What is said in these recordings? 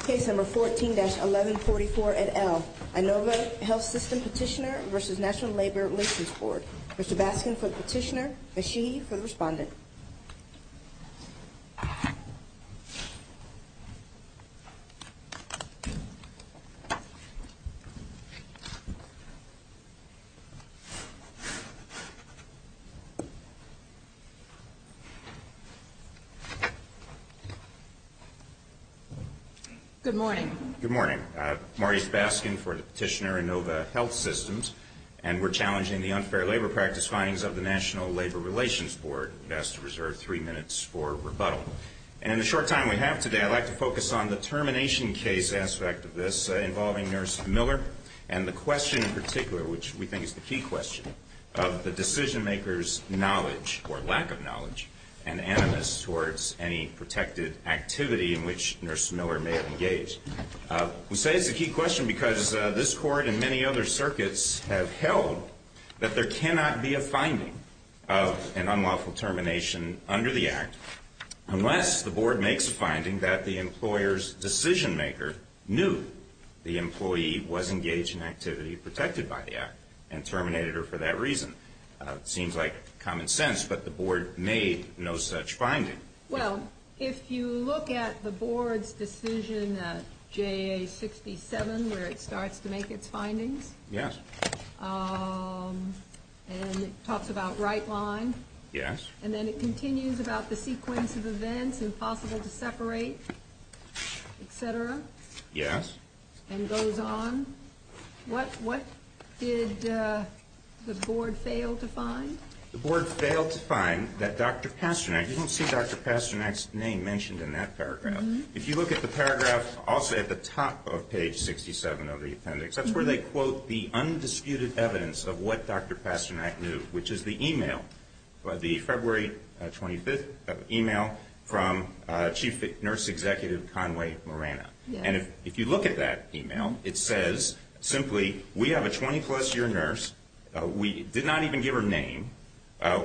Case number 14-1144 et al. INOVA Health System Petitioner v. National Labor Relations Board. Mr. Baskin for the petitioner, Ms. Sheehy for the respondent. Good morning. Good morning. Marty Baskin for the petitioner, INOVA Health Systems, and we're challenging the unfair labor practice findings of the National Labor Relations Board. You're asked to reserve three minutes for rebuttal. And in the short time we have today, I'd like to focus on the termination case aspect of this involving Nurse Miller and the question in particular, which we think is the key question, of the decision-maker's knowledge or lack of knowledge and animus towards any protected activity in which Nurse Miller may have engaged. We say it's a key question because this Court and many other circuits have held that there cannot be a finding of an unlawful termination under the Act for that reason. It seems like common sense, but the Board made no such finding. Well, if you look at the Board's decision, JA 67, where it starts to make its findings. Yes. And it talks about right line. Yes. And then it continues about the sequence of events, impossible to separate, et cetera. Yes. And goes on. What did the Board fail to find? The Board failed to find that Dr. Pasternak, you don't see Dr. Pasternak's name mentioned in that paragraph. If you look at the paragraph also at the top of page 67 of the appendix, that's where they quote the undisputed evidence of what Dr. Pasternak knew, which is the email, the February 25th email from Chief Nurse Executive Conway Moreno. Yes. And if you look at that email, it says simply, we have a 20-plus year nurse. We did not even give her name.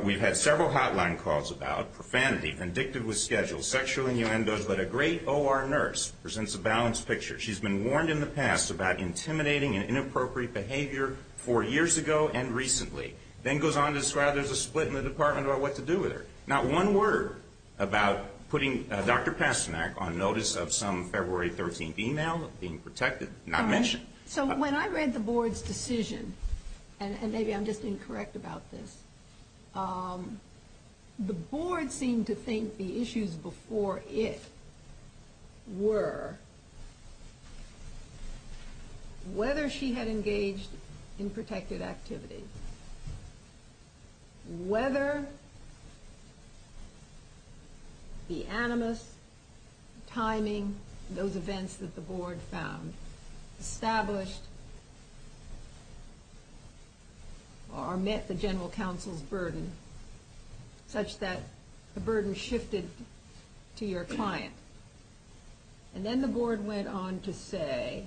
We've had several hotline calls about profanity, vindictive with schedule, sexual innuendos, but a great OR nurse presents a balanced picture. She's been warned in the past about intimidating and inappropriate behavior four years ago and recently. Then goes on to describe there's a split in the department about what to do with her. Not one word about putting Dr. Pasternak on notice of some February 13th email, being protected, not mentioned. So when I read the Board's decision, and maybe I'm just incorrect about this, the Board seemed to think the issues before it were whether she had engaged in the animus, timing, those events that the Board found established or met the General Counsel's burden such that the burden shifted to your client. And then the Board went on to say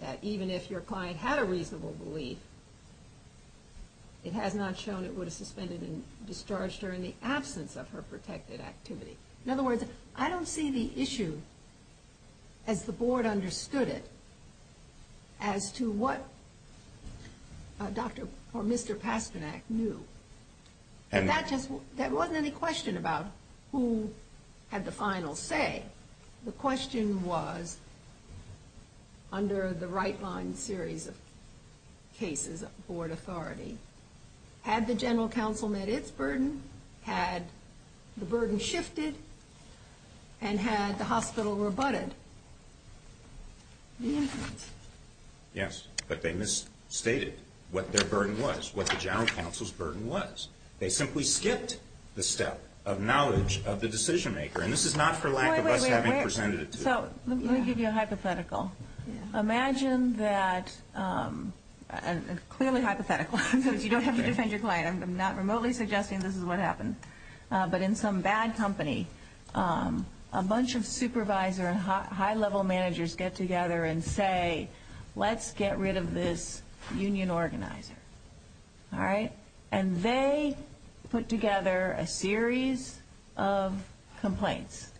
that even if your client had a reasonable belief, it has not shown it would have suspended and discharged her in the absence of her protected activity. In other words, I don't see the issue as the Board understood it as to what Dr. or Mr. Pasternak knew. There wasn't any question about who had the final say. The question was, under the right-line series of cases of Board authority, had the General Counsel met its burden? Had the burden shifted? And had the hospital rebutted the inference? Yes, but they misstated what their burden was, what the General Counsel's burden was. They simply skipped the step of knowledge of the decision-maker. And this is not for lack of us having presented it to them. Let me give you a hypothetical. Imagine that, clearly hypothetical, so you don't have to defend your client. I'm not remotely suggesting this is what happened. But in some bad company, a bunch of supervisor and high-level managers get together and say, let's get rid of this union organizer. And they put together a series of complaints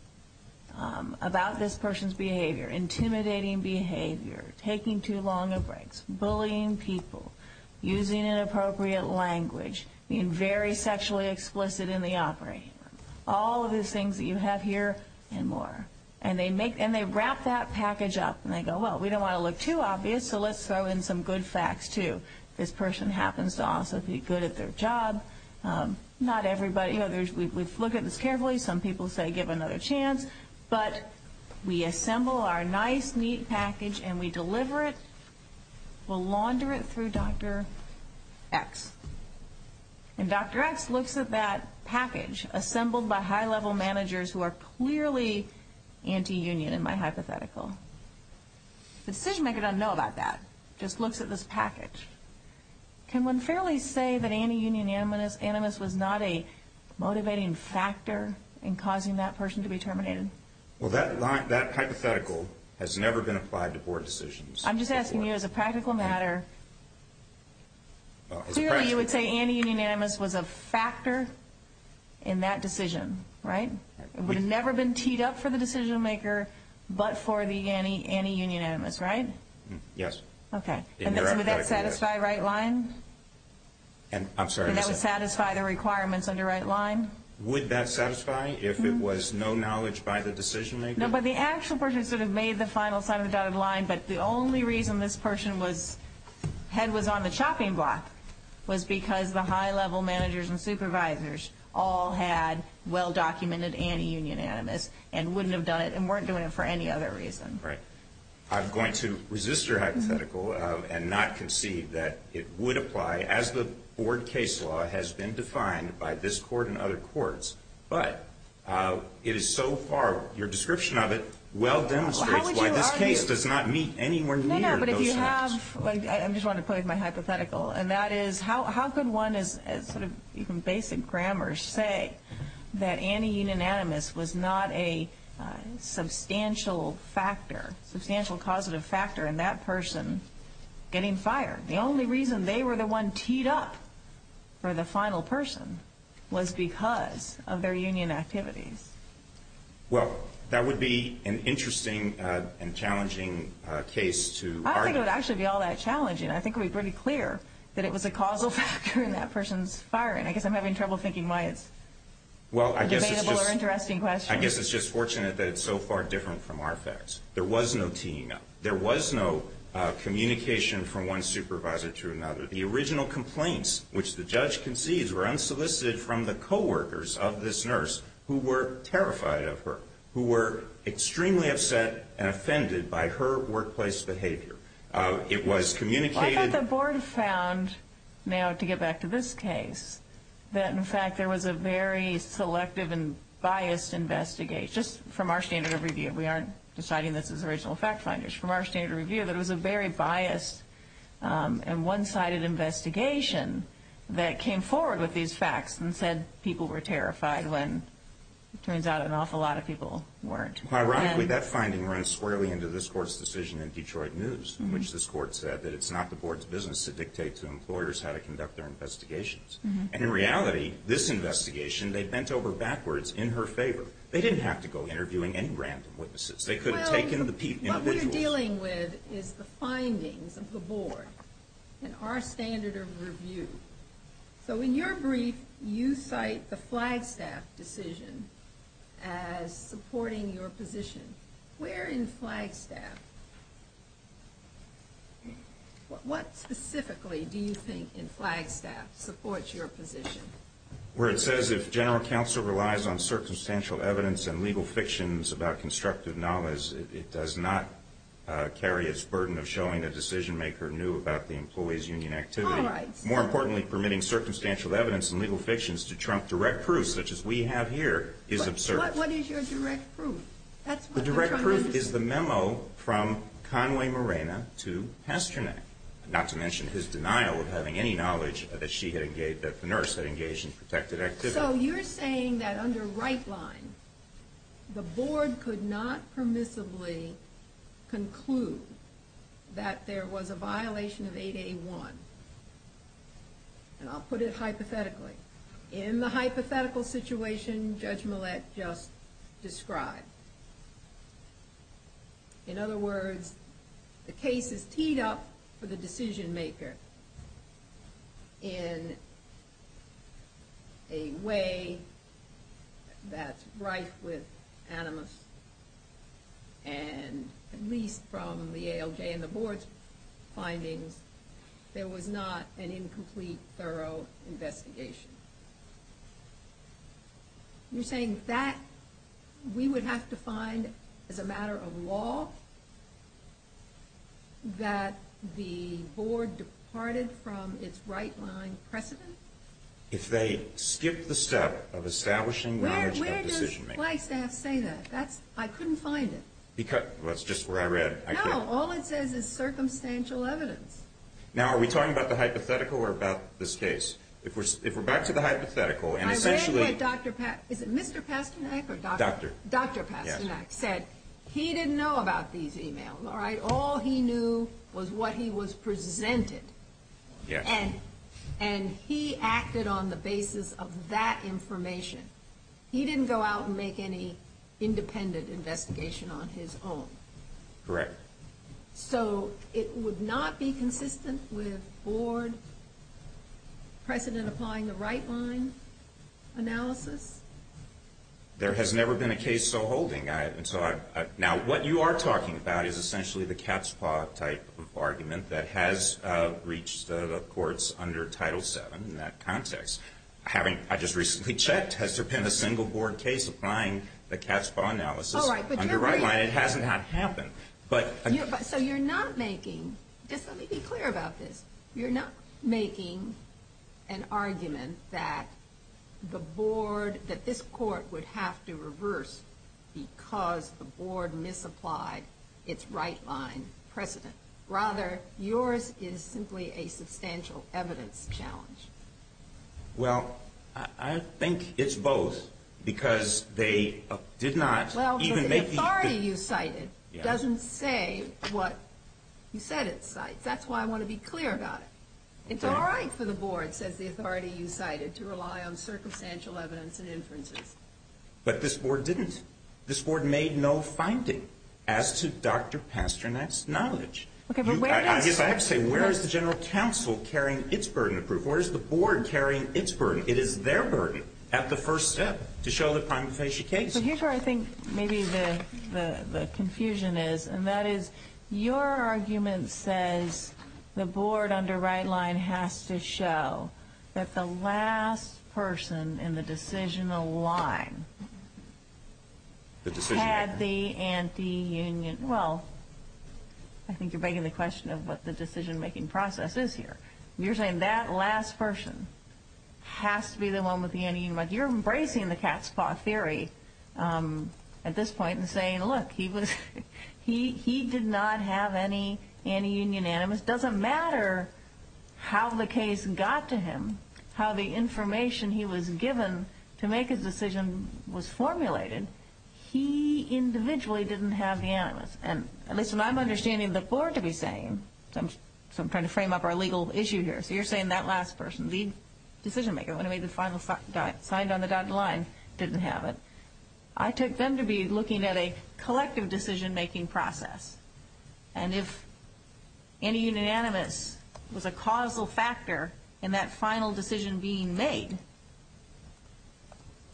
about this person's behavior. Intimidating behavior, taking too long of breaks, bullying people, using inappropriate language, being very sexually explicit in the operating room. All of these things that you have here and more. And they wrap that package up and they go, well, we don't want to look too obvious, so let's throw in some good facts, too. This person happens to also be good at their job. Not everybody. We've looked at this carefully. Some people say give another chance. But we assemble our nice, neat package and we deliver it. We'll launder it through Dr. X. And Dr. X looks at that package, assembled by high-level managers who are clearly anti-union in my hypothetical. The decision-maker doesn't know about that, just looks at this package. Can one fairly say that anti-union animus was not a motivating factor in causing that person to be terminated? Well, that hypothetical has never been applied to board decisions. I'm just asking you as a practical matter. Clearly you would say anti-union animus was a factor in that decision, right? It would have never been teed up for the decision-maker but for the anti-union animus, right? Yes. Okay. Would that satisfy right line? I'm sorry. Would that satisfy the requirements under right line? Would that satisfy if it was no knowledge by the decision-maker? No, but the actual person sort of made the final sign of the dotted line, but the only reason this person's head was on the chopping block was because the high-level managers and supervisors all had well-documented anti-union animus and wouldn't have done it and weren't doing it for any other reason. Right. I'm going to resist your hypothetical and not concede that it would apply as the board case law has been defined by this court and other courts, but it is so far, your description of it well demonstrates why this case does not meet anywhere near those standards. No, no, but if you have, I just want to play with my hypothetical, and that is how could one as sort of even basic grammar say that anti-union animus was not a substantial factor, substantial causative factor in that person getting fired? The only reason they were the one teed up for the final person was because of their union activities. Well, that would be an interesting and challenging case to argue. I don't think it would actually be all that challenging. I think it would be pretty clear that it was a causal factor in that person's firing. I guess I'm having trouble thinking why it's a debatable or interesting question. Well, I guess it's just fortunate that it's so far different from our facts. There was no teeing up. There was no communication from one supervisor to another. The original complaints, which the judge concedes, were unsolicited from the coworkers of this nurse who were terrified of her, who were extremely upset and offended by her workplace behavior. It was communicated. Well, I thought the board found, now to get back to this case, that, in fact, there was a very selective and biased investigation, just from our standard of review. We aren't deciding this as original fact finders. From our standard of review, there was a very biased and one-sided investigation that came forward with these facts and said people were terrified when it turns out an awful lot of people weren't. Ironically, that finding runs squarely into this court's decision in Detroit News, in which this court said that it's not the board's business to dictate to employers how to conduct their investigations. And in reality, this investigation, they bent over backwards in her favor. They didn't have to go interviewing any random witnesses. They could have taken the individuals. Well, what we're dealing with is the findings of the board and our standard of review. So in your brief, you cite the Flagstaff decision as supporting your position. Where in Flagstaff, what specifically do you think in Flagstaff supports your position? Well, it says if general counsel relies on circumstantial evidence and legal fictions about constructive knowledge, it does not carry its burden of showing a decision maker knew about the employee's union activity. All right. More importantly, permitting circumstantial evidence and legal fictions to trump direct proof, such as we have here, is absurd. But what is your direct proof? The direct proof is the memo from Conway Morena to Pasternak, not to mention his denial of having any knowledge that the nurse had engaged in protected activity. So you're saying that under right line, the board could not permissibly conclude that there was a violation of 8A1. And I'll put it hypothetically. In the hypothetical situation Judge Millett just described. In other words, the case is teed up for the decision maker in a way that's rife with animus. And at least from the ALJ and the board's findings, there was not an incomplete, thorough investigation. You're saying that we would have to find, as a matter of law, that the board departed from its right line precedent? If they skipped the step of establishing knowledge of the decision maker. Where does my staff say that? I couldn't find it. That's just where I read. No, all it says is circumstantial evidence. Now, are we talking about the hypothetical or about this case? If we're back to the hypothetical. I read what Dr. Pasternak, is it Mr. Pasternak? Doctor. Dr. Pasternak said he didn't know about these emails, all right? All he knew was what he was presented. Yes. And he acted on the basis of that information. He didn't go out and make any independent investigation on his own. Correct. So it would not be consistent with board precedent applying the right line analysis? There has never been a case so holding. Now, what you are talking about is essentially the cat's paw type of argument that has reached the courts under Title VII in that context. I just recently checked. Has there been a single board case applying the cat's paw analysis under right line? It hasn't happened. So you're not making, just let me be clear about this, you're not making an argument that the board, that this court would have to reverse because the board misapplied its right line precedent. Rather, yours is simply a substantial evidence challenge. Well, I think it's both because they did not even make the. Well, the authority you cited doesn't say what you said it cites. That's why I want to be clear about it. It's all right for the board, says the authority you cited, to rely on circumstantial evidence and inferences. But this board didn't. I guess I have to say, where is the general counsel carrying its burden of proof? Where is the board carrying its burden? It is their burden at the first step to show the prima facie case. Here's where I think maybe the confusion is. And that is, your argument says the board under right line has to show that the last person in the decisional line had the anti-union. Well, I think you're begging the question of what the decision-making process is here. You're saying that last person has to be the one with the anti-union. You're embracing the cat's paw theory at this point and saying, look, he did not have any anti-union animus. It doesn't matter how the case got to him, how the information he was given to make his decision was formulated. He individually didn't have the animus. And listen, I'm understanding the board to be saying, so I'm trying to frame up our legal issue here. So you're saying that last person, the decision-maker, when he made the final sign on the dotted line, didn't have it. I take them to be looking at a collective decision-making process. And if anti-union animus was a causal factor in that final decision being made,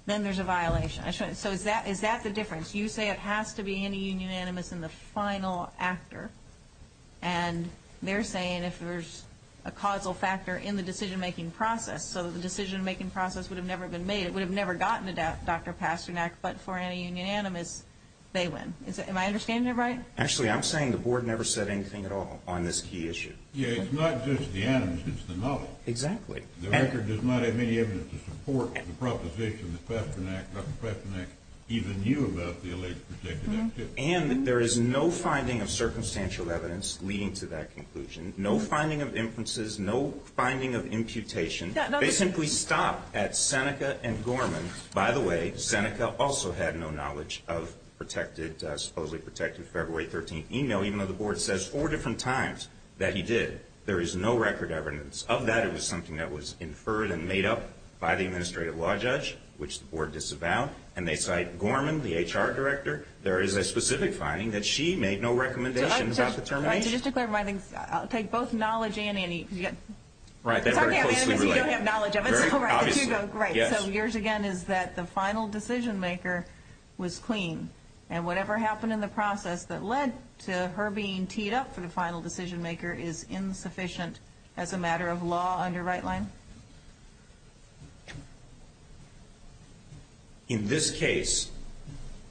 then there's a violation. So is that the difference? You say it has to be anti-union animus in the final actor. And they're saying if there's a causal factor in the decision-making process so that the decision-making process would have never been made, it would have never gotten to Dr. Pasternak, but for anti-union animus, they win. Am I understanding that right? Actually, I'm saying the board never said anything at all on this key issue. Yeah, it's not just the animus. It's the knowledge. Exactly. The record does not have any evidence to support the proposition that Dr. Pasternak even knew about the alleged protected activity. And there is no finding of circumstantial evidence leading to that conclusion, no finding of inferences, no finding of imputation. They simply stopped at Seneca and Gorman. By the way, Seneca also had no knowledge of supposedly protected February 13th email, even though the board says four different times that he did. There is no record evidence of that. It was something that was inferred and made up by the administrative law judge, which the board disavowed. And they cite Gorman, the HR director. There is a specific finding that she made no recommendations about the termination. Right, so just to clarify things, I'll take both knowledge and animus. Right, they're very closely related. Talking about animus, you don't have knowledge of it. Obviously. So yours, again, is that the final decision-maker was clean. And whatever happened in the process that led to her being teed up for the final decision-maker is insufficient as a matter of law under right-line? In this case,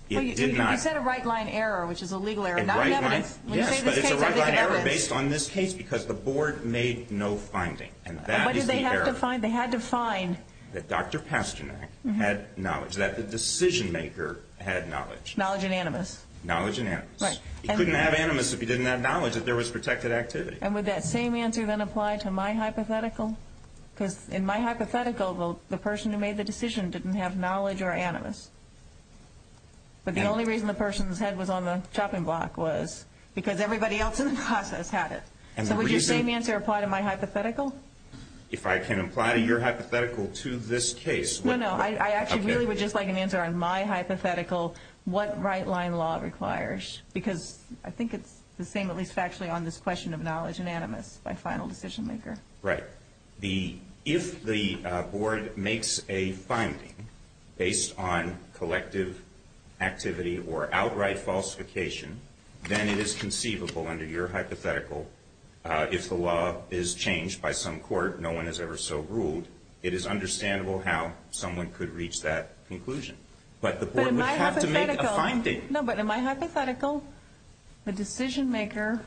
it did not. You said a right-line error, which is a legal error, not evidence. Yes, but it's a right-line error based on this case because the board made no finding. And that is the error. What did they have to find? They had to find. That Dr. Pasternak had knowledge, that the decision-maker had knowledge. Knowledge and animus. Knowledge and animus. Right. He couldn't have animus if he didn't have knowledge, if there was protected activity. And would that same answer then apply to my hypothetical? Because in my hypothetical, the person who made the decision didn't have knowledge or animus. But the only reason the person's head was on the chopping block was because everybody else in the process had it. So would your same answer apply to my hypothetical? If I can apply to your hypothetical to this case. No, no. I actually really would just like an answer on my hypothetical, what right-line law requires. Because I think it's the same, at least factually, on this question of knowledge and animus by final decision-maker. Right. If the board makes a finding based on collective activity or outright falsification, then it is conceivable under your hypothetical, if the law is changed by some court, no one has ever so ruled, it is understandable how someone could reach that conclusion. But the board would have to make a finding. But in my hypothetical, the decision-maker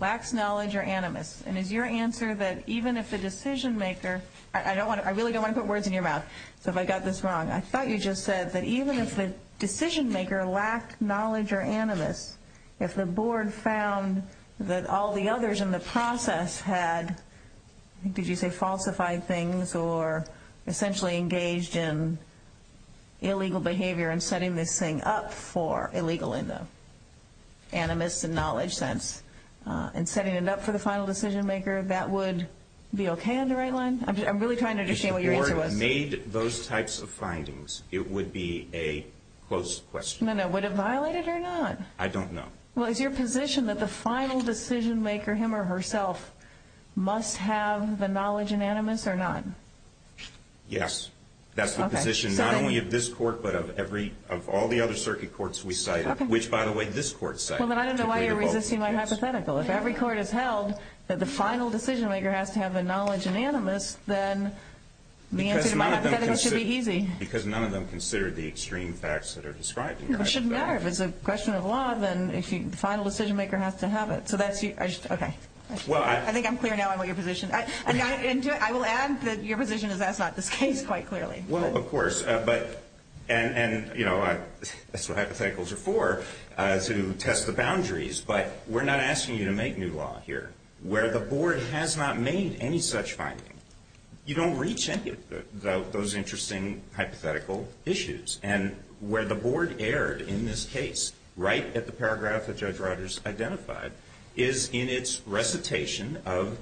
lacks knowledge or animus. And is your answer that even if the decision-maker, I really don't want to put words in your mouth, so if I got this wrong, I thought you just said that even if the decision-maker lacked knowledge or animus, if the board found that all the others in the process had, did you say falsified things, or essentially engaged in illegal behavior and setting this thing up for illegal animus and knowledge, and setting it up for the final decision-maker, that would be okay under right-line? I'm really trying to understand what your answer was. If the board made those types of findings, it would be a closed question. Would it violate it or not? I don't know. Well, is your position that the final decision-maker, him or herself, must have the knowledge and animus or not? Yes. That's the position not only of this court, but of all the other circuit courts we cited, which, by the way, this court cited. Well, then I don't know why you're resisting my hypothetical. If every court has held that the final decision-maker has to have the knowledge and animus, then the answer to my hypothetical should be easy. Because none of them considered the extreme facts that are described in your hypothetical. It shouldn't matter. If it's a question of law, then the final decision-maker has to have it. Okay. I think I'm clear now on what your position is. I will add that your position is that's not this case, quite clearly. Well, of course. That's what hypotheticals are for, to test the boundaries. But we're not asking you to make new law here. Where the Board has not made any such finding, you don't reach any of those interesting hypothetical issues. And where the Board erred in this case, right at the paragraph that Judge Rodgers identified, is in its recitation of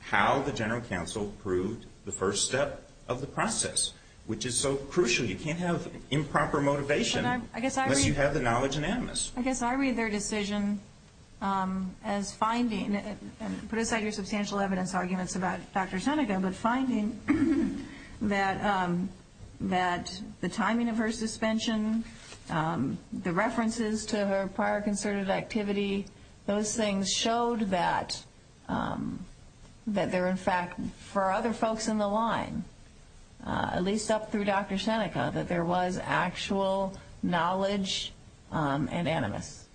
how the general counsel proved the first step of the process, which is so crucial. You can't have improper motivation unless you have the knowledge and animus. I guess I read their decision as finding, and put aside your substantial evidence arguments about Dr. Seneca, but finding that the timing of her suspension, the references to her prior concerted activity, those things showed that there, in fact, for other folks in the line, at least up through Dr. Seneca, that there was actual knowledge and animus.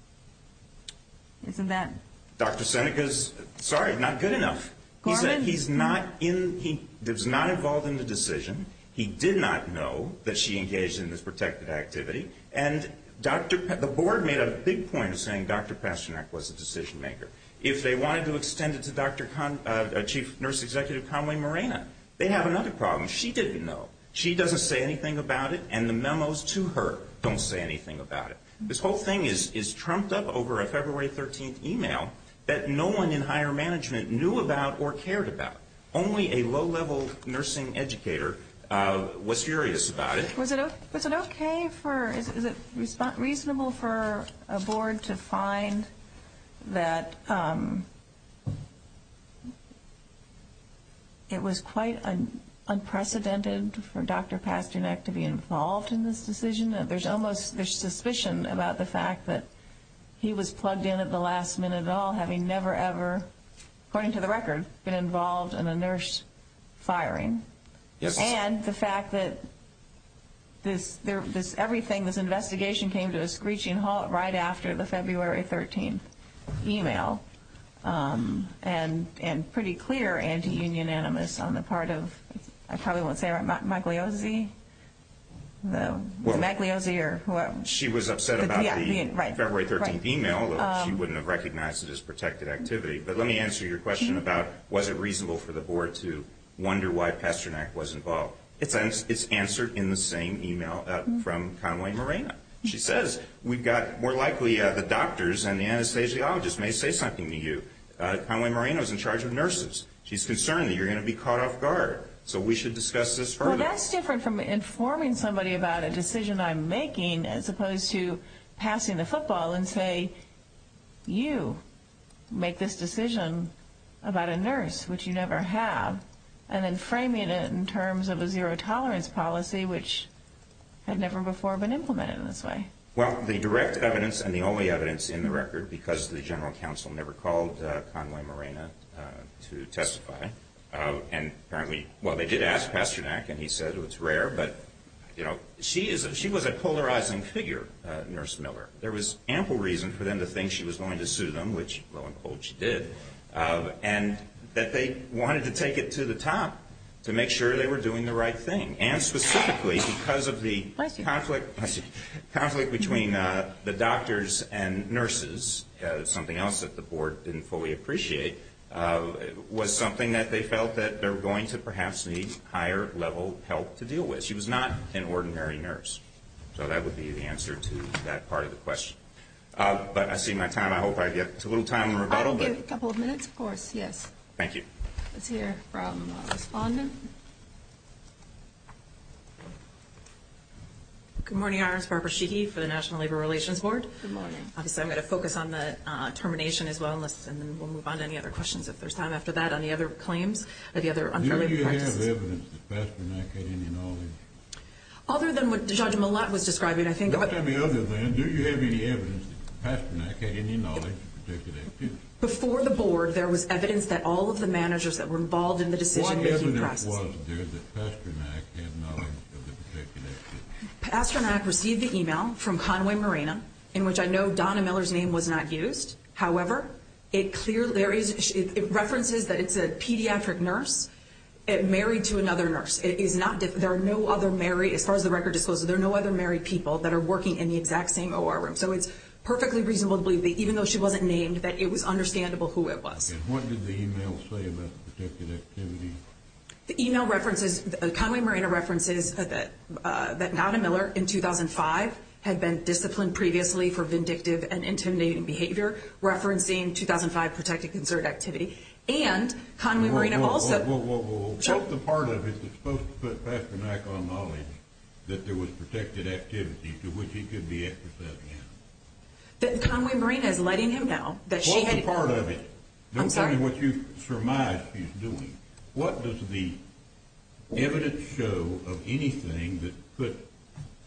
Isn't that... Dr. Seneca's, sorry, not good enough. He said he's not involved in the decision. He did not know that she engaged in this protected activity. And the Board made a big point of saying Dr. Pasternak was the decision maker. If they wanted to extend it to Chief Nurse Executive Conway Morena, they'd have another problem. She didn't know. She doesn't say anything about it, and the memos to her don't say anything about it. This whole thing is trumped up over a February 13th email that no one in higher management knew about or cared about. Only a low-level nursing educator was furious about it. Was it okay for, is it reasonable for a Board to find that it was quite unprecedented for Dr. Pasternak to be involved in this decision? There's almost suspicion about the fact that he was plugged in at the last minute at all, having never ever, according to the record, been involved in a nurse firing. And the fact that this, everything, this investigation came to a screeching halt right after the February 13th email, and pretty clear anti-union animus on the part of, I probably won't say it right, Magliozzi? Magliozzi or whoever. She was upset about the February 13th email. She wouldn't have recognized it as protected activity. But let me answer your question about was it reasonable for the Board to wonder why Pasternak was involved. It's answered in the same email from Conway Moreno. She says, we've got, more likely the doctors and the anesthesiologists may say something to you. Conway Moreno's in charge of nurses. She's concerned that you're going to be caught off guard. So we should discuss this further. Well, that's different from informing somebody about a decision I'm making as opposed to passing the football and say, you make this decision about a nurse, which you never have, and then framing it in terms of a zero-tolerance policy, which had never before been implemented in this way. Well, the direct evidence and the only evidence in the record, because the General Counsel never called Conway Moreno to testify, and apparently, well, they did ask Pasternak, and he said it was rare. But, you know, she was a polarizing figure, Nurse Miller. There was ample reason for them to think she was going to sue them, which, lo and behold, she did, and that they wanted to take it to the top to make sure they were doing the right thing. And specifically because of the conflict between the doctors and nurses, something else that the board didn't fully appreciate, was something that they felt that they were going to perhaps need higher-level help to deal with. She was not an ordinary nurse. So that would be the answer to that part of the question. But I see my time. I hope I get a little time in rebuttal. I'll give you a couple of minutes, of course, yes. Thank you. Let's hear from a respondent. Good morning, Your Honors. Barbara Sheehy for the National Labor Relations Board. Good morning. Obviously, I'm going to focus on the termination as well, and then we'll move on to any other questions if there's time after that. Any other claims? Any other unfairly practiced? Do you have evidence that Pasternak had any knowledge? Other than what Judge Millett was describing, I think. Let's have the other thing. Do you have any evidence that Pasternak had any knowledge of the protected activity? Before the board, there was evidence that all of the managers that were involved in the decision-making process. What evidence was there that Pasternak had knowledge of the protected activity? Pasternak received the email from Conway Marina, in which I know Donna Miller's name was not used. However, it references that it's a pediatric nurse married to another nurse. There are no other married, as far as the record discloses, there are no other married people that are working in the exact same OR room. So it's perfectly reasonable to believe that even though she wasn't named, that it was understandable who it was. And what did the email say about the protected activity? The email references, Conway Marina references that Donna Miller, in 2005, had been disciplined previously for vindictive and intimidating behavior, referencing 2005 protected concert activity. And Conway Marina also... What's the part of it that's supposed to put Pasternak on knowledge that there was protected activity to which he could be exercised? That Conway Marina is letting him know that she had... What does the evidence show of anything that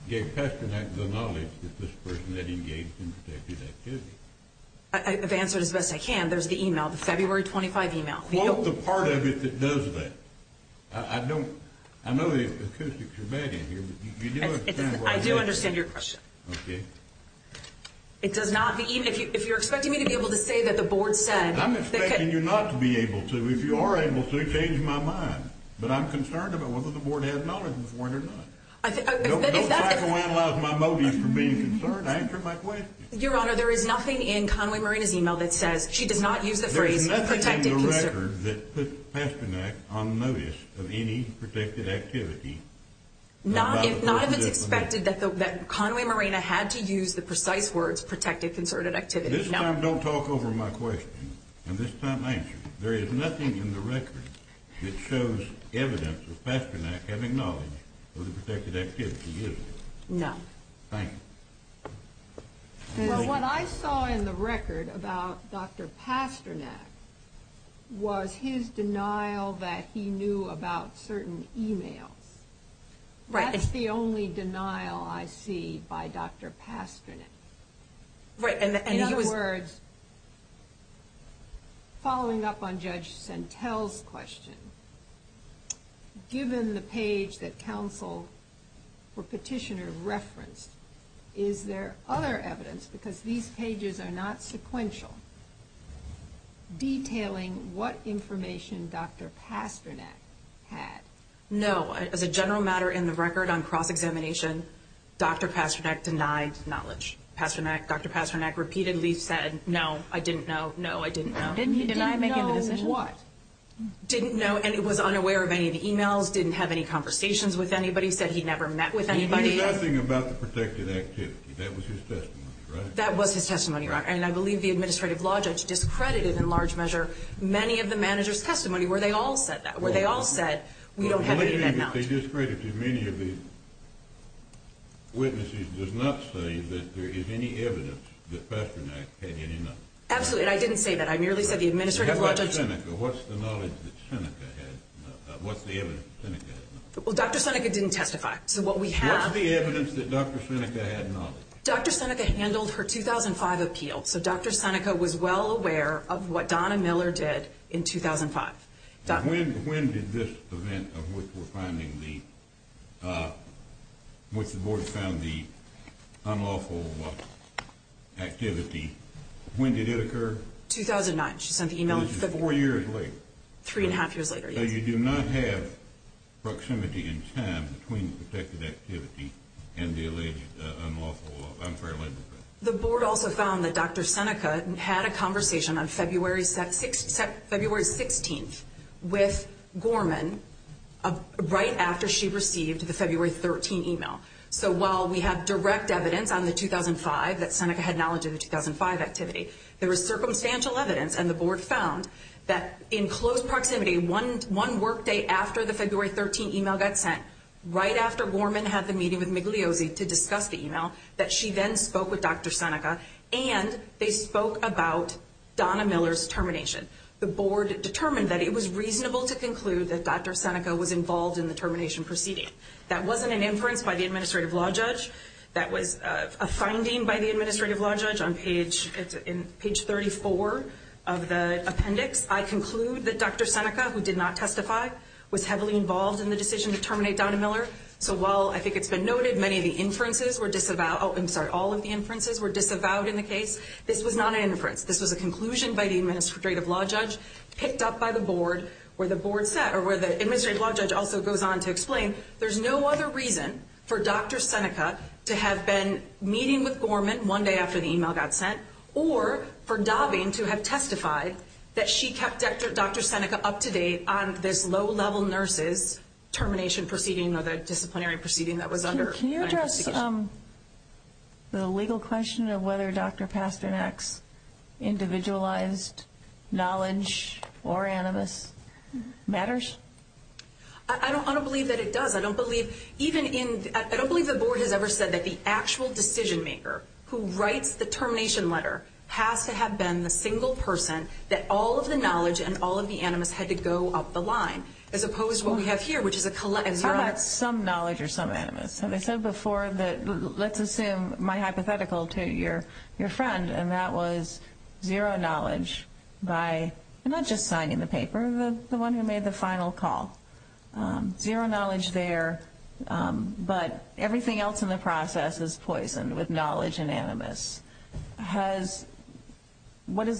gave Pasternak the knowledge that this person had engaged in protected activity? I've answered as best I can. There's the email, the February 25 email. What's the part of it that does that? I don't... I know the acoustics are bad in here, but you do understand... I do understand your question. Okay. It does not be... If you're expecting me to be able to say that the board said... I'm expecting you not to be able to. If you are able to, change my mind. But I'm concerned about whether the board had knowledge before or not. Don't psychoanalyze my motives for being concerned. Answer my question. Your Honor, there is nothing in Conway Marina's email that says she does not use the phrase... There's nothing in the record that puts Pasternak on notice of any protected activity. Not if it's expected that Conway Marina had to use the precise words protected concerted activity. This time, don't talk over my question. And this time, answer it. There is nothing in the record that shows evidence of Pasternak having knowledge of the protected activity, is there? No. Thank you. Well, what I saw in the record about Dr. Pasternak was his denial that he knew about certain emails. Right. That's the only denial I see by Dr. Pasternak. Right. In other words, following up on Judge Sentel's question, given the page that counsel or petitioner referenced, is there other evidence, because these pages are not sequential, detailing what information Dr. Pasternak had? No. As a general matter in the record on cross-examination, Dr. Pasternak denied knowledge. Dr. Pasternak repeatedly said, no, I didn't know, no, I didn't know. Didn't he deny making the decision? Didn't know what? Didn't know, and he was unaware of any of the emails, didn't have any conversations with anybody, said he never met with anybody. He knew nothing about the protected activity. That was his testimony, right? That was his testimony, and I believe the administrative law judge discredited in large measure many of the manager's testimony where they all said that, they discredited many of the witnesses, does not say that there is any evidence that Pasternak had any knowledge. Absolutely, and I didn't say that. I merely said the administrative law judge. What about Seneca? What's the knowledge that Seneca had? What's the evidence that Seneca had? Well, Dr. Seneca didn't testify, so what we have. What's the evidence that Dr. Seneca had knowledge? Dr. Seneca handled her 2005 appeal, so Dr. Seneca was well aware of what Donna Miller did in 2005. When did this event of which we're finding the, which the board found the unlawful activity, when did it occur? 2009. She sent the email. This is four years later. Three and a half years later, yes. So you do not have proximity in time between the protected activity and the alleged unlawful, unfair labor offense. The board also found that Dr. Seneca had a conversation on February 16th with Gorman right after she received the February 13th email. So while we have direct evidence on the 2005, that Seneca had knowledge of the 2005 activity, there was circumstantial evidence, and the board found, that in close proximity, one workday after the February 13th email got sent, right after Gorman had the meeting with Migliosi to discuss the email, that she then spoke with Dr. Seneca, and they spoke about Donna Miller's termination. The board determined that it was reasonable to conclude that Dr. Seneca was involved in the termination proceeding. That wasn't an inference by the administrative law judge. That was a finding by the administrative law judge on page 34 of the appendix. I conclude that Dr. Seneca, who did not testify, was heavily involved in the decision to terminate Donna Miller. So while I think it's been noted many of the inferences were disavowed, oh, I'm sorry, all of the inferences were disavowed in the case, this was not an inference. This was a conclusion by the administrative law judge, picked up by the board, where the board set, or where the administrative law judge also goes on to explain, there's no other reason for Dr. Seneca to have been meeting with Gorman one day after the email got sent, or for Dobbing to have testified that she kept Dr. Seneca up to date on this low-level nurses termination proceeding or the disciplinary proceeding that was under investigation. Can you address the legal question of whether Dr. Pasternak's individualized knowledge or animus matters? I don't believe that it does. I don't believe the board has ever said that the actual decision maker who writes the termination letter has to have been the single person that all of the knowledge and all of the animus had to go up the line, as opposed to what we have here, which is a collection. How about some knowledge or some animus? They said before that, let's assume, my hypothetical to your friend, and that was zero knowledge by not just signing the paper, the one who made the final call. Zero knowledge there, but everything else in the process is poisoned with knowledge and animus. Do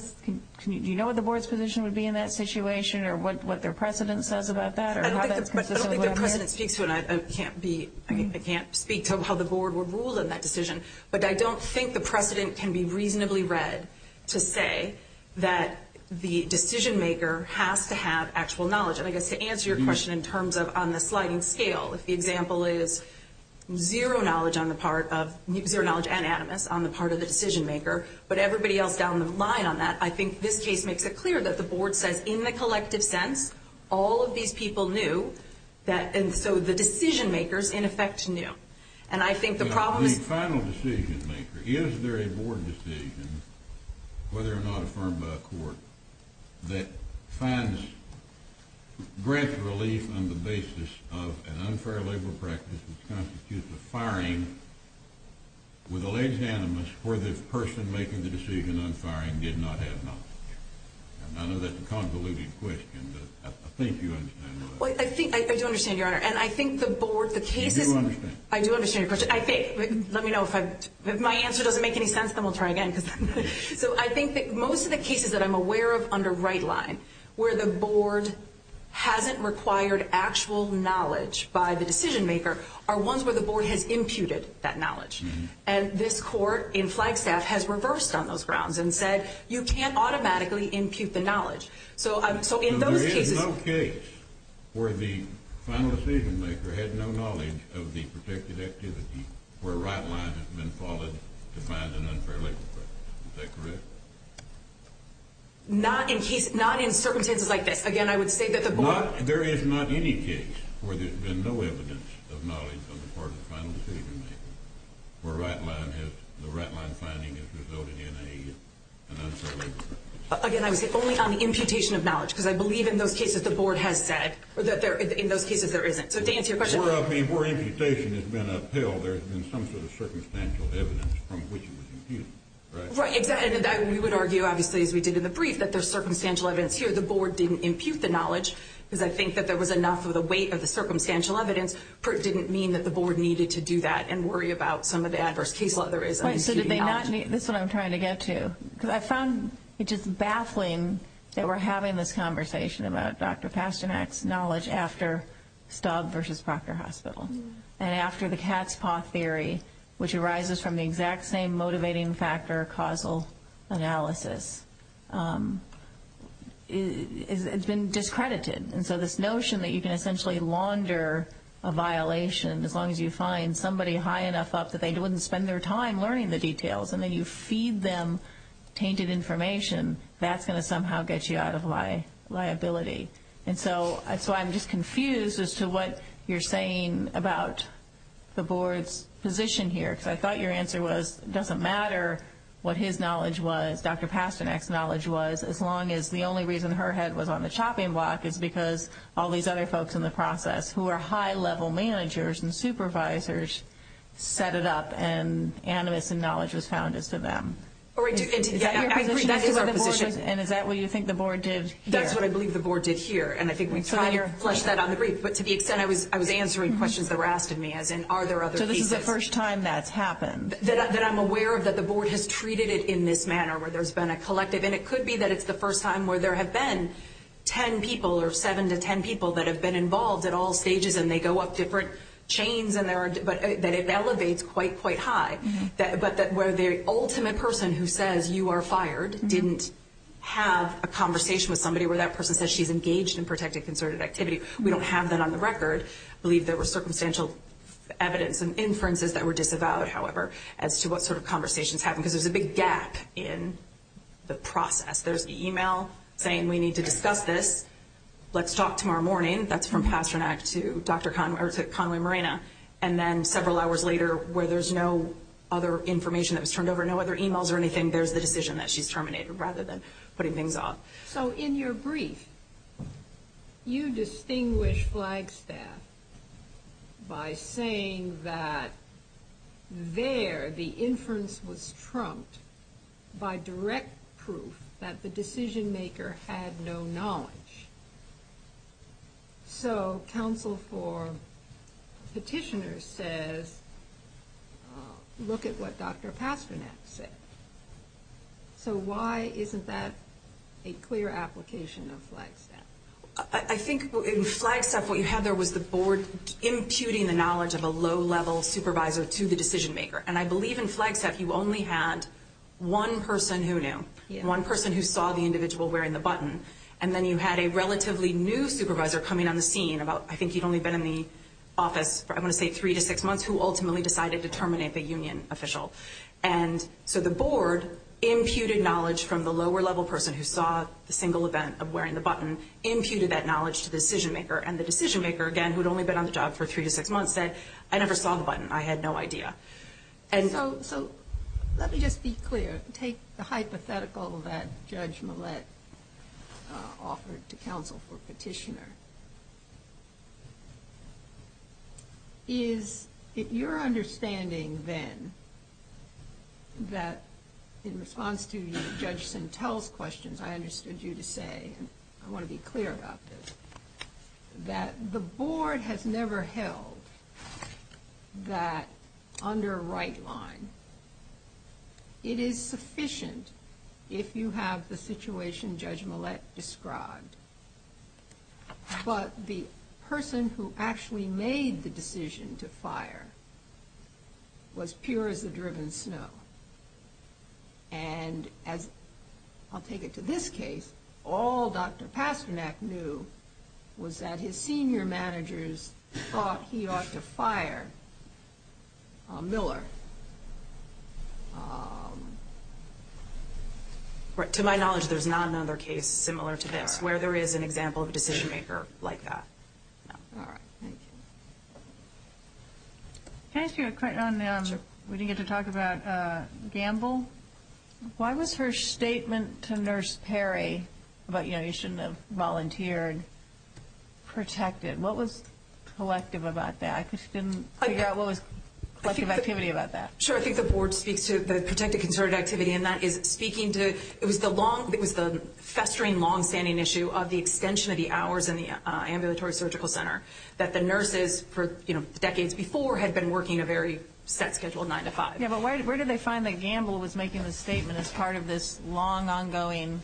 you know what the board's position would be in that situation or what their precedent says about that? I don't think their precedent speaks to it. I can't speak to how the board would rule in that decision, but I don't think the precedent can be reasonably read to say that the decision maker has to have actual knowledge. And I guess to answer your question in terms of on the sliding scale, if the example is zero knowledge on the part of zero knowledge and animus on the part of the decision maker, but everybody else down the line on that, I think this case makes it clear that the board says in the collective sense all of these people knew, and so the decision makers, in effect, knew. And I think the problem is the final decision maker. Is there a board decision, whether or not affirmed by a court, that finds great relief on the basis of an unfair labor practice which constitutes a firing with alleged animus where the person making the decision on firing did not have knowledge? I know that's a convoluted question, but I think you understand. I do understand, Your Honor, and I think the board, the cases— You do understand. I do understand your question. Let me know if my answer doesn't make any sense, then we'll try again. So I think that most of the cases that I'm aware of under right line where the board hasn't required actual knowledge by the decision maker are ones where the board has imputed that knowledge. And this court in Flagstaff has reversed on those grounds and said you can't automatically impute the knowledge. So in those cases— There is no case where the final decision maker had no knowledge of the protected activity where right line has been followed to find an unfair labor practice. Is that correct? Not in circumstances like this. Again, I would say that the board— There is not any case where there's been no evidence of knowledge on the part of the final decision maker where the right line finding has resulted in an unfair labor practice. Again, I would say only on the imputation of knowledge because I believe in those cases the board has said, or that in those cases there isn't. So to answer your question— Where imputation has been upheld, there has been some sort of circumstantial evidence from which it was imputed. Right, exactly. And we would argue, obviously, as we did in the brief, that there's circumstantial evidence here. The board didn't impute the knowledge because I think that there was enough of the weight of the circumstantial evidence. It didn't mean that the board needed to do that and worry about some of the adverse case law there is on imputing knowledge. This is what I'm trying to get to. Because I found it just baffling that we're having this conversation about Dr. Pasternak's knowledge after Staub versus Proctor Hospital and after the cat's paw theory, which arises from the exact same motivating factor causal analysis. It's been discredited. And so this notion that you can essentially launder a violation as long as you find somebody high enough up that they wouldn't spend their time learning the details and then you feed them tainted information, that's going to somehow get you out of liability. And so I'm just confused as to what you're saying about the board's position here. Because I thought your answer was it doesn't matter what his knowledge was, Dr. Pasternak's knowledge was, as long as the only reason her head was on the chopping block is because all these other folks in the process, who are high-level managers and supervisors, set it up and animus and knowledge was found as to them. Is that your position as to what the board did? And is that what you think the board did here? That's what I believe the board did here. And I think we flushed that on the brief. But to the extent I was answering questions that were asked of me, as in are there other pieces. So this is the first time that's happened. That I'm aware of that the board has treated it in this manner, where there's been a collective. And it could be that it's the first time where there have been 10 people or 7 to 10 people that have been involved at all stages and they go up different chains and that it elevates quite, quite high. But where the ultimate person who says you are fired didn't have a conversation with somebody where that person says she's engaged in protected, concerted activity. We don't have that on the record. I believe there was circumstantial evidence and inferences that were disavowed, however, as to what sort of conversations happened. Because there's a big gap in the process. There's the email saying we need to discuss this. Let's talk tomorrow morning. That's from Pastranac to Conway Marina. And then several hours later, where there's no other information that was turned over, no other emails or anything, there's the decision that she's terminated rather than putting things off. So in your brief, you distinguish Flagstaff by saying that there the inference was trumped by direct proof that the decision maker had no knowledge. So counsel for petitioners says look at what Dr. Pastranac said. So why isn't that a clear application of Flagstaff? I think in Flagstaff what you had there was the board imputing the knowledge of a low-level supervisor to the decision maker. And I believe in Flagstaff you only had one person who knew, one person who saw the individual wearing the button. And then you had a relatively new supervisor coming on the scene about, I think he'd only been in the office for, I want to say, three to six months who ultimately decided to terminate the union official. And so the board imputed knowledge from the lower-level person who saw the single event of wearing the button, imputed that knowledge to the decision maker. And the decision maker, again, who had only been on the job for three to six months said, I never saw the button. I had no idea. So let me just be clear. Take the hypothetical that Judge Millett offered to counsel for petitioner. Is it your understanding then that in response to Judge Sentelle's questions, I understood you to say, and I want to be clear about this, that the board has never held that under a right line. It is sufficient if you have the situation Judge Millett described. But the person who actually made the decision to fire was pure as the driven snow. And as I'll take it to this case, all Dr. Pasternak knew was that his senior managers thought he ought to fire Miller. To my knowledge, there's not another case similar to this where there is an example of a decision maker like that. All right. Thank you. Can I ask you a quick one? Sure. We didn't get to talk about Gamble. Why was her statement to Nurse Perry about, you know, you shouldn't have volunteered, protected? What was collective about that? I couldn't figure out what was collective activity about that. Sure. I think the board speaks to the protected concerted activity, and that is speaking to, it was the long, it was the festering longstanding issue of the extension of the hours in the ambulatory surgical center that the nurses for, you know, decades before had been working a very set schedule, 9 to 5. Yeah, but where did they find that Gamble was making the statement as part of this long ongoing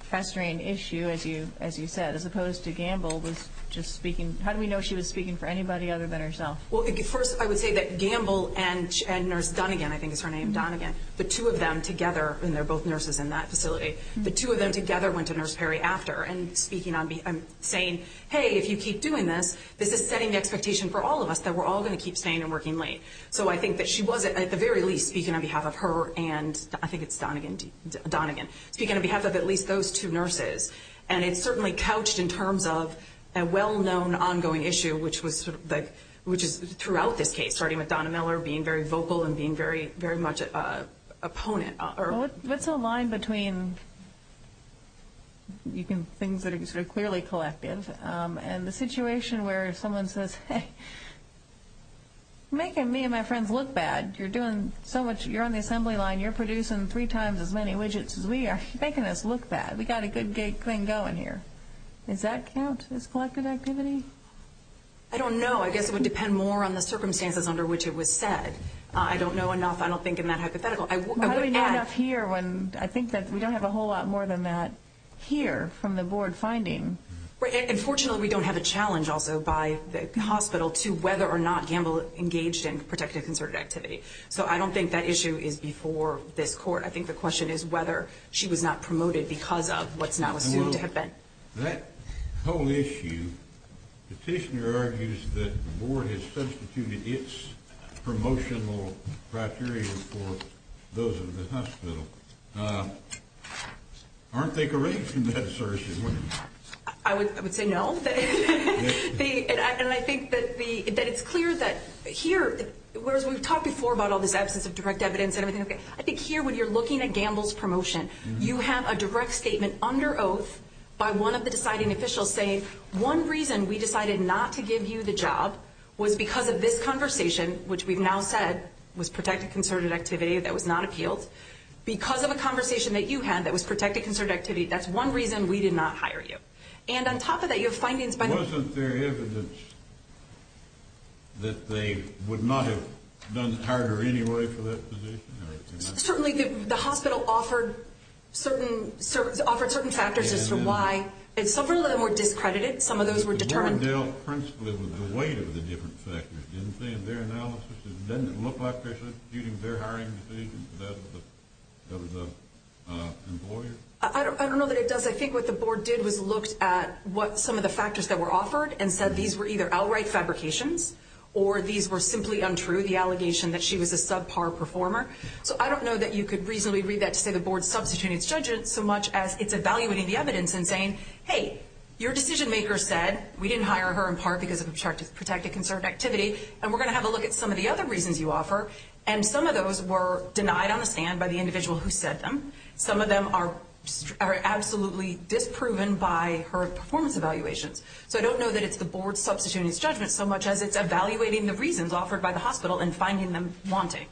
festering issue, as you said, as opposed to Gamble was just speaking, how do we know she was speaking for anybody other than herself? Well, first I would say that Gamble and Nurse Donegan, I think is her name, Donegan, the two of them together, and they're both nurses in that facility, the two of them together went to Nurse Perry after and speaking on, saying, hey, if you keep doing this, this is setting the expectation for all of us that we're all going to keep staying and working late. So I think that she was, at the very least, speaking on behalf of her and I think it's Donegan, speaking on behalf of at least those two nurses. And it certainly couched in terms of a well-known ongoing issue, which was sort of like, which is throughout this case, starting with Donna Miller being very vocal and being very much an opponent. What's the line between things that are sort of clearly collective and the Many of my friends look bad. You're doing so much. You're on the assembly line. You're producing three times as many widgets as we are. You're making us look bad. We've got a good thing going here. Does that count as collective activity? I don't know. I guess it would depend more on the circumstances under which it was said. I don't know enough. I don't think in that hypothetical. How do we know enough here when I think that we don't have a whole lot more than that here from the board finding? Unfortunately, we don't have a challenge also by the hospital to whether or not gamble engaged in protective concerted activity. So I don't think that issue is before this court. I think the question is whether she was not promoted because of what's now assumed to have been. That whole issue, the petitioner argues that the board has substituted its promotional criteria for those in the hospital. Aren't they correct in that assertion? I would say no. I think that it's clear that here, whereas we've talked before about all this absence of direct evidence and everything, I think here when you're looking at gambles promotion, you have a direct statement under oath by one of the deciding officials saying, one reason we decided not to give you the job was because of this conversation, which we've now said was protective concerted activity that was not appealed. Because of a conversation that you had that was protective concerted activity, that's one reason we did not hire you. And on top of that, you have findings by the Wasn't there evidence that they would not have done it harder anyway for that position? Certainly the hospital offered certain factors as to why. And several of them were discredited. Some of those were determined. The board dealt principally with the weight of the different factors, didn't they, in their analysis? Doesn't it look like they're using their hiring decisions instead of the employer? I don't know that it does. I think what the board did was looked at what some of the factors that were offered and said these were either outright fabrications or these were simply untrue, the allegation that she was a subpar performer. So I don't know that you could reasonably read that to say the board substituted its judgment so much as it's evaluating the evidence and saying, hey, your decision maker said we didn't hire her in part because of protective concerted activity, and we're going to have a look at some of the other reasons you offer. And some of those were denied on the stand by the individual who said them. Some of them are absolutely disproven by her performance evaluations. So I don't know that it's the board substituting its judgment so much as it's evaluating the reasons offered by the hospital and finding them wanting.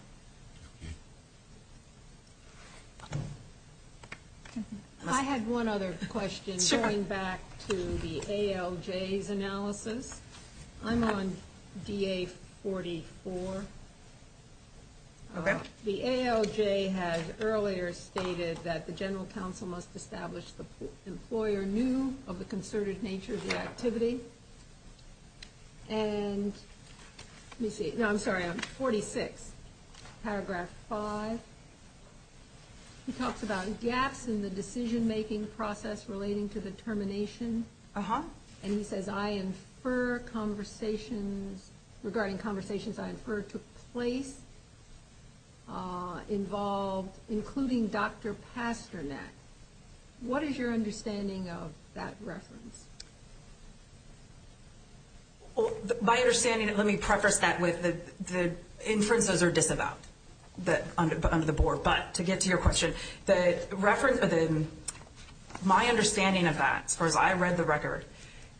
I had one other question going back to the ALJ's analysis. I'm on DA44. Okay. The ALJ has earlier stated that the general counsel must establish the employer knew of the concerted nature of the activity. And let me see. No, I'm sorry. I'm 46. Paragraph 5. He talks about gaps in the decision-making process relating to the termination. Uh-huh. And he says I infer conversations regarding conversations I infer took place involved including Dr. Pasternak. What is your understanding of that reference? My understanding, let me preface that with the inferences are disavowed under the board. But to get to your question, my understanding of that, as far as I read the report,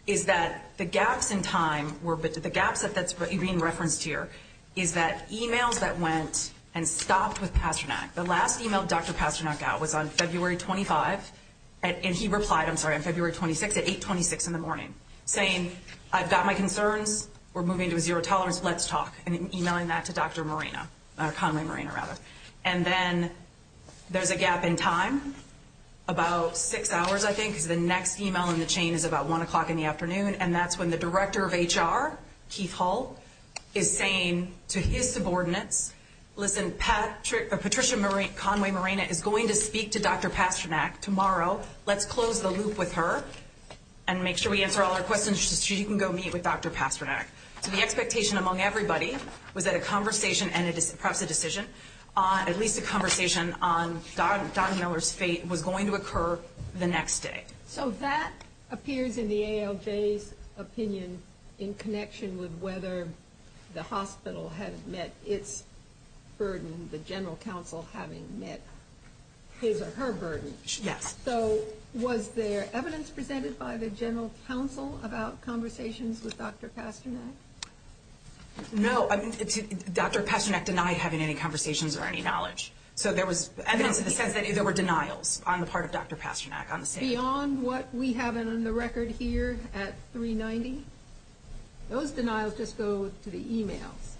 is that the gaps in time, the gaps that's being referenced here, is that emails that went and stopped with Pasternak. The last email Dr. Pasternak got was on February 25th. And he replied, I'm sorry, on February 26th at 826 in the morning, saying, I've got my concerns. We're moving to a zero tolerance. Let's talk. And emailing that to Dr. Moreno, Conway Moreno, rather. And then there's a gap in time, about six hours, I think, because the next email in the chain is about 1 o'clock in the afternoon. And that's when the director of HR, Keith Hull, is saying to his subordinates, listen, Patricia Conway Moreno is going to speak to Dr. Pasternak tomorrow. Let's close the loop with her and make sure we answer all her questions so she can go meet with Dr. Pasternak. So the expectation among everybody was that a conversation and perhaps a decision, at least a conversation on Don Miller's fate was going to occur the next day. So that appears in the ALJ's opinion in connection with whether the hospital had met its burden, the general counsel having met his or her burden. Yes. So was there evidence presented by the general counsel about conversations with Dr. Pasternak? No. Dr. Pasternak denied having any conversations or any knowledge. So there was evidence in the sense that there were denials on the part of Dr. Pasternak. Beyond what we have on the record here at 390? Those denials just go to the e-mails.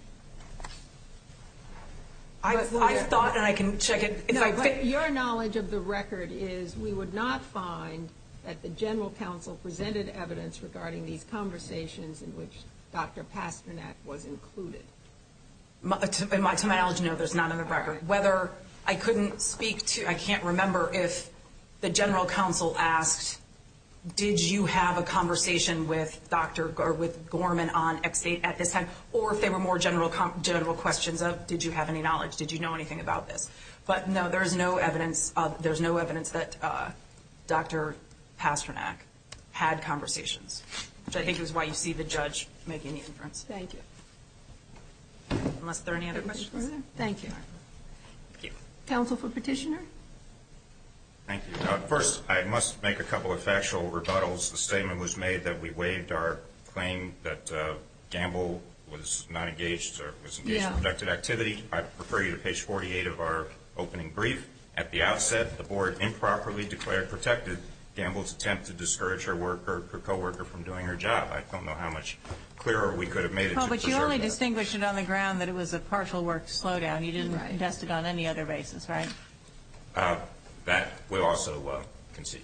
I've thought and I can check it. No, but your knowledge of the record is we would not find that the general counsel presented evidence regarding these conversations in which Dr. Pasternak was included. To my knowledge, no, there's none on the record. I can't remember if the general counsel asked, did you have a conversation with Gorman at this time, or if they were more general questions of did you have any knowledge, did you know anything about this? But no, there's no evidence that Dr. Pasternak had conversations, which I think is why you see the judge making the inference. Thank you. Unless there are any other questions? Thank you. Counsel for petitioner. Thank you. First, I must make a couple of factual rebuttals. The statement was made that we waived our claim that Gamble was not engaged or was engaged in protected activity. I prefer you to page 48 of our opening brief. At the outset, the board improperly declared protected Gamble's attempt to discourage her co-worker from doing her job. I don't know how much clearer we could have made it. No, but you only distinguished it on the ground that it was a partial work slowdown. You didn't test it on any other basis, right? That we'll also concede.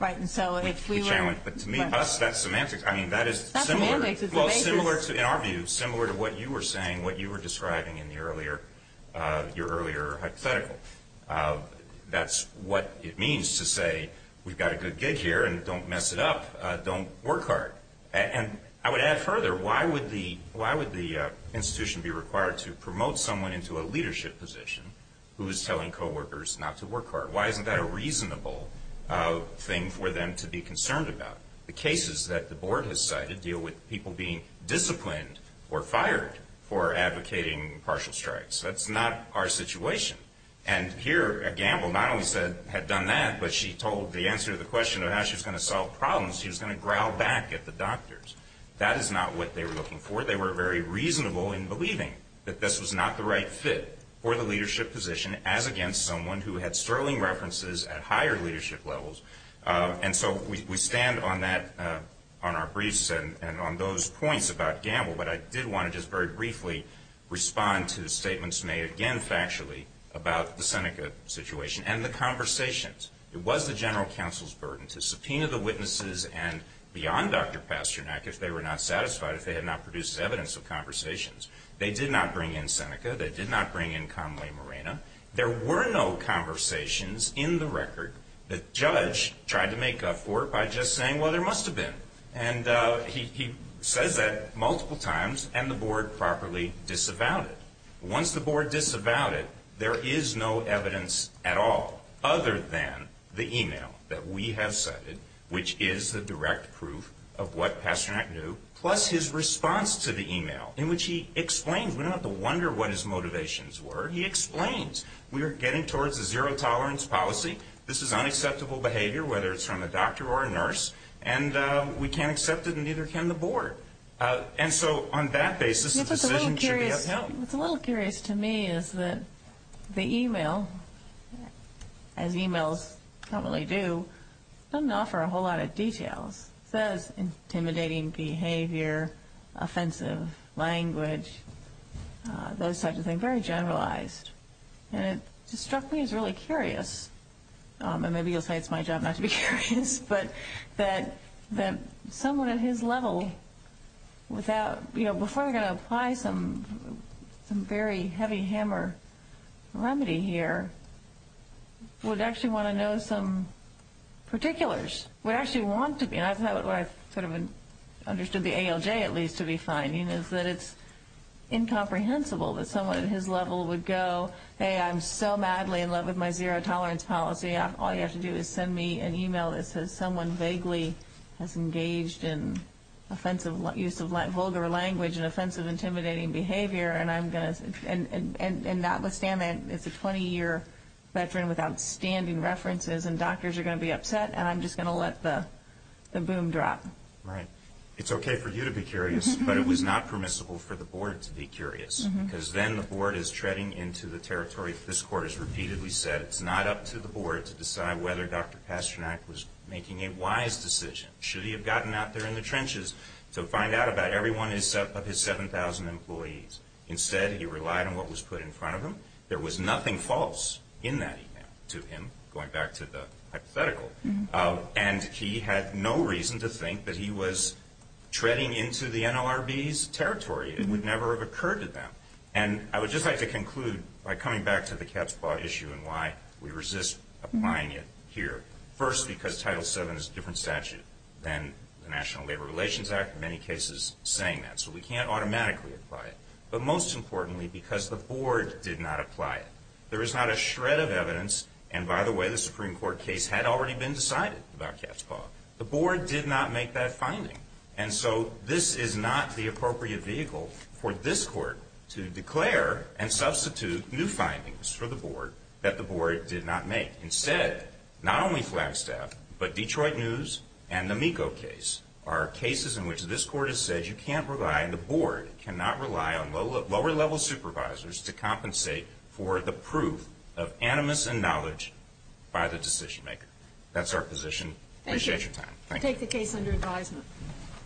Right. But to me, us, that's semantics. I mean, that is similar, in our view, similar to what you were saying, what you were describing in your earlier hypothetical. That's what it means to say we've got a good gig here and don't mess it up, don't work hard. And I would add further, why would the institution be required to promote someone into a leadership position who is telling co-workers not to work hard? Why isn't that a reasonable thing for them to be concerned about? The cases that the board has cited deal with people being disciplined or fired for advocating partial strikes. That's not our situation. And here, Gamble not only had done that, but she told the answer to the question of how she was going to solve problems, she was going to growl back at the doctors. That is not what they were looking for. They were very reasonable in believing that this was not the right fit for the leadership position, as against someone who had sterling references at higher leadership levels. And so we stand on that, on our briefs and on those points about Gamble. But I did want to just very briefly respond to statements made, again, factually about the Seneca situation and the conversations. It was the general counsel's burden to subpoena the witnesses and beyond Dr. Pasternak if they were not satisfied, if they had not produced evidence of conversations. They did not bring in Seneca. They did not bring in Conway Moreno. There were no conversations in the record. The judge tried to make up for it by just saying, well, there must have been. And he says that multiple times, and the board properly disavowed it. Once the board disavowed it, there is no evidence at all, other than the e-mail that we have cited, which is the direct proof of what Pasternak knew, plus his response to the e-mail in which he explains. We don't have to wonder what his motivations were. He explains, we are getting towards a zero tolerance policy. This is unacceptable behavior, whether it's from a doctor or a nurse, and we can't accept it and neither can the board. And so on that basis, the decision should be upheld. What's a little curious to me is that the e-mail, as e-mails normally do, doesn't offer a whole lot of details. It says intimidating behavior, offensive language, those types of things, very generalized. And it struck me as really curious, and maybe you'll say it's my job not to be curious, but that someone at his level without, you know, before they're going to apply some very heavy hammer remedy here, would actually want to know some particulars, would actually want to be. And I thought what I sort of understood the ALJ at least to be finding is that it's incomprehensible that someone at his level would go, hey, I'm so madly in love with my zero tolerance policy, all you have to do is send me an e-mail that says someone vaguely has engaged in offensive use of vulgar language and offensive intimidating behavior, and notwithstanding it's a 20-year veteran with outstanding references and doctors are going to be upset, and I'm just going to let the boom drop. Right. It's okay for you to be curious, but it was not permissible for the board to be curious, because then the board is treading into the territory, if this court has repeatedly said it's not up to the board to decide whether Dr. Pasternak was making a wise decision. Should he have gotten out there in the trenches to find out about every one of his 7,000 employees? Instead, he relied on what was put in front of him. There was nothing false in that e-mail to him, going back to the hypothetical. And he had no reason to think that he was treading into the NLRB's territory. It would never have occurred to them. And I would just like to conclude by coming back to the Katzpah issue and why we resist applying it here. First, because Title VII is a different statute than the National Labor Relations Act, in many cases saying that, so we can't automatically apply it. But most importantly, because the board did not apply it. There is not a shred of evidence, and by the way, the Supreme Court case had already been decided about Katzpah. The board did not make that finding. And so this is not the appropriate vehicle for this court to declare and substitute new findings for the board that the board did not make. Instead, not only Flagstaff, but Detroit News and the MECO case are cases in which this court has said you can't rely, the board cannot rely on lower-level supervisors to compensate for the proof of animus and knowledge by the decision-maker. That's our position. We appreciate your time. Thank you. I take the case under advisement.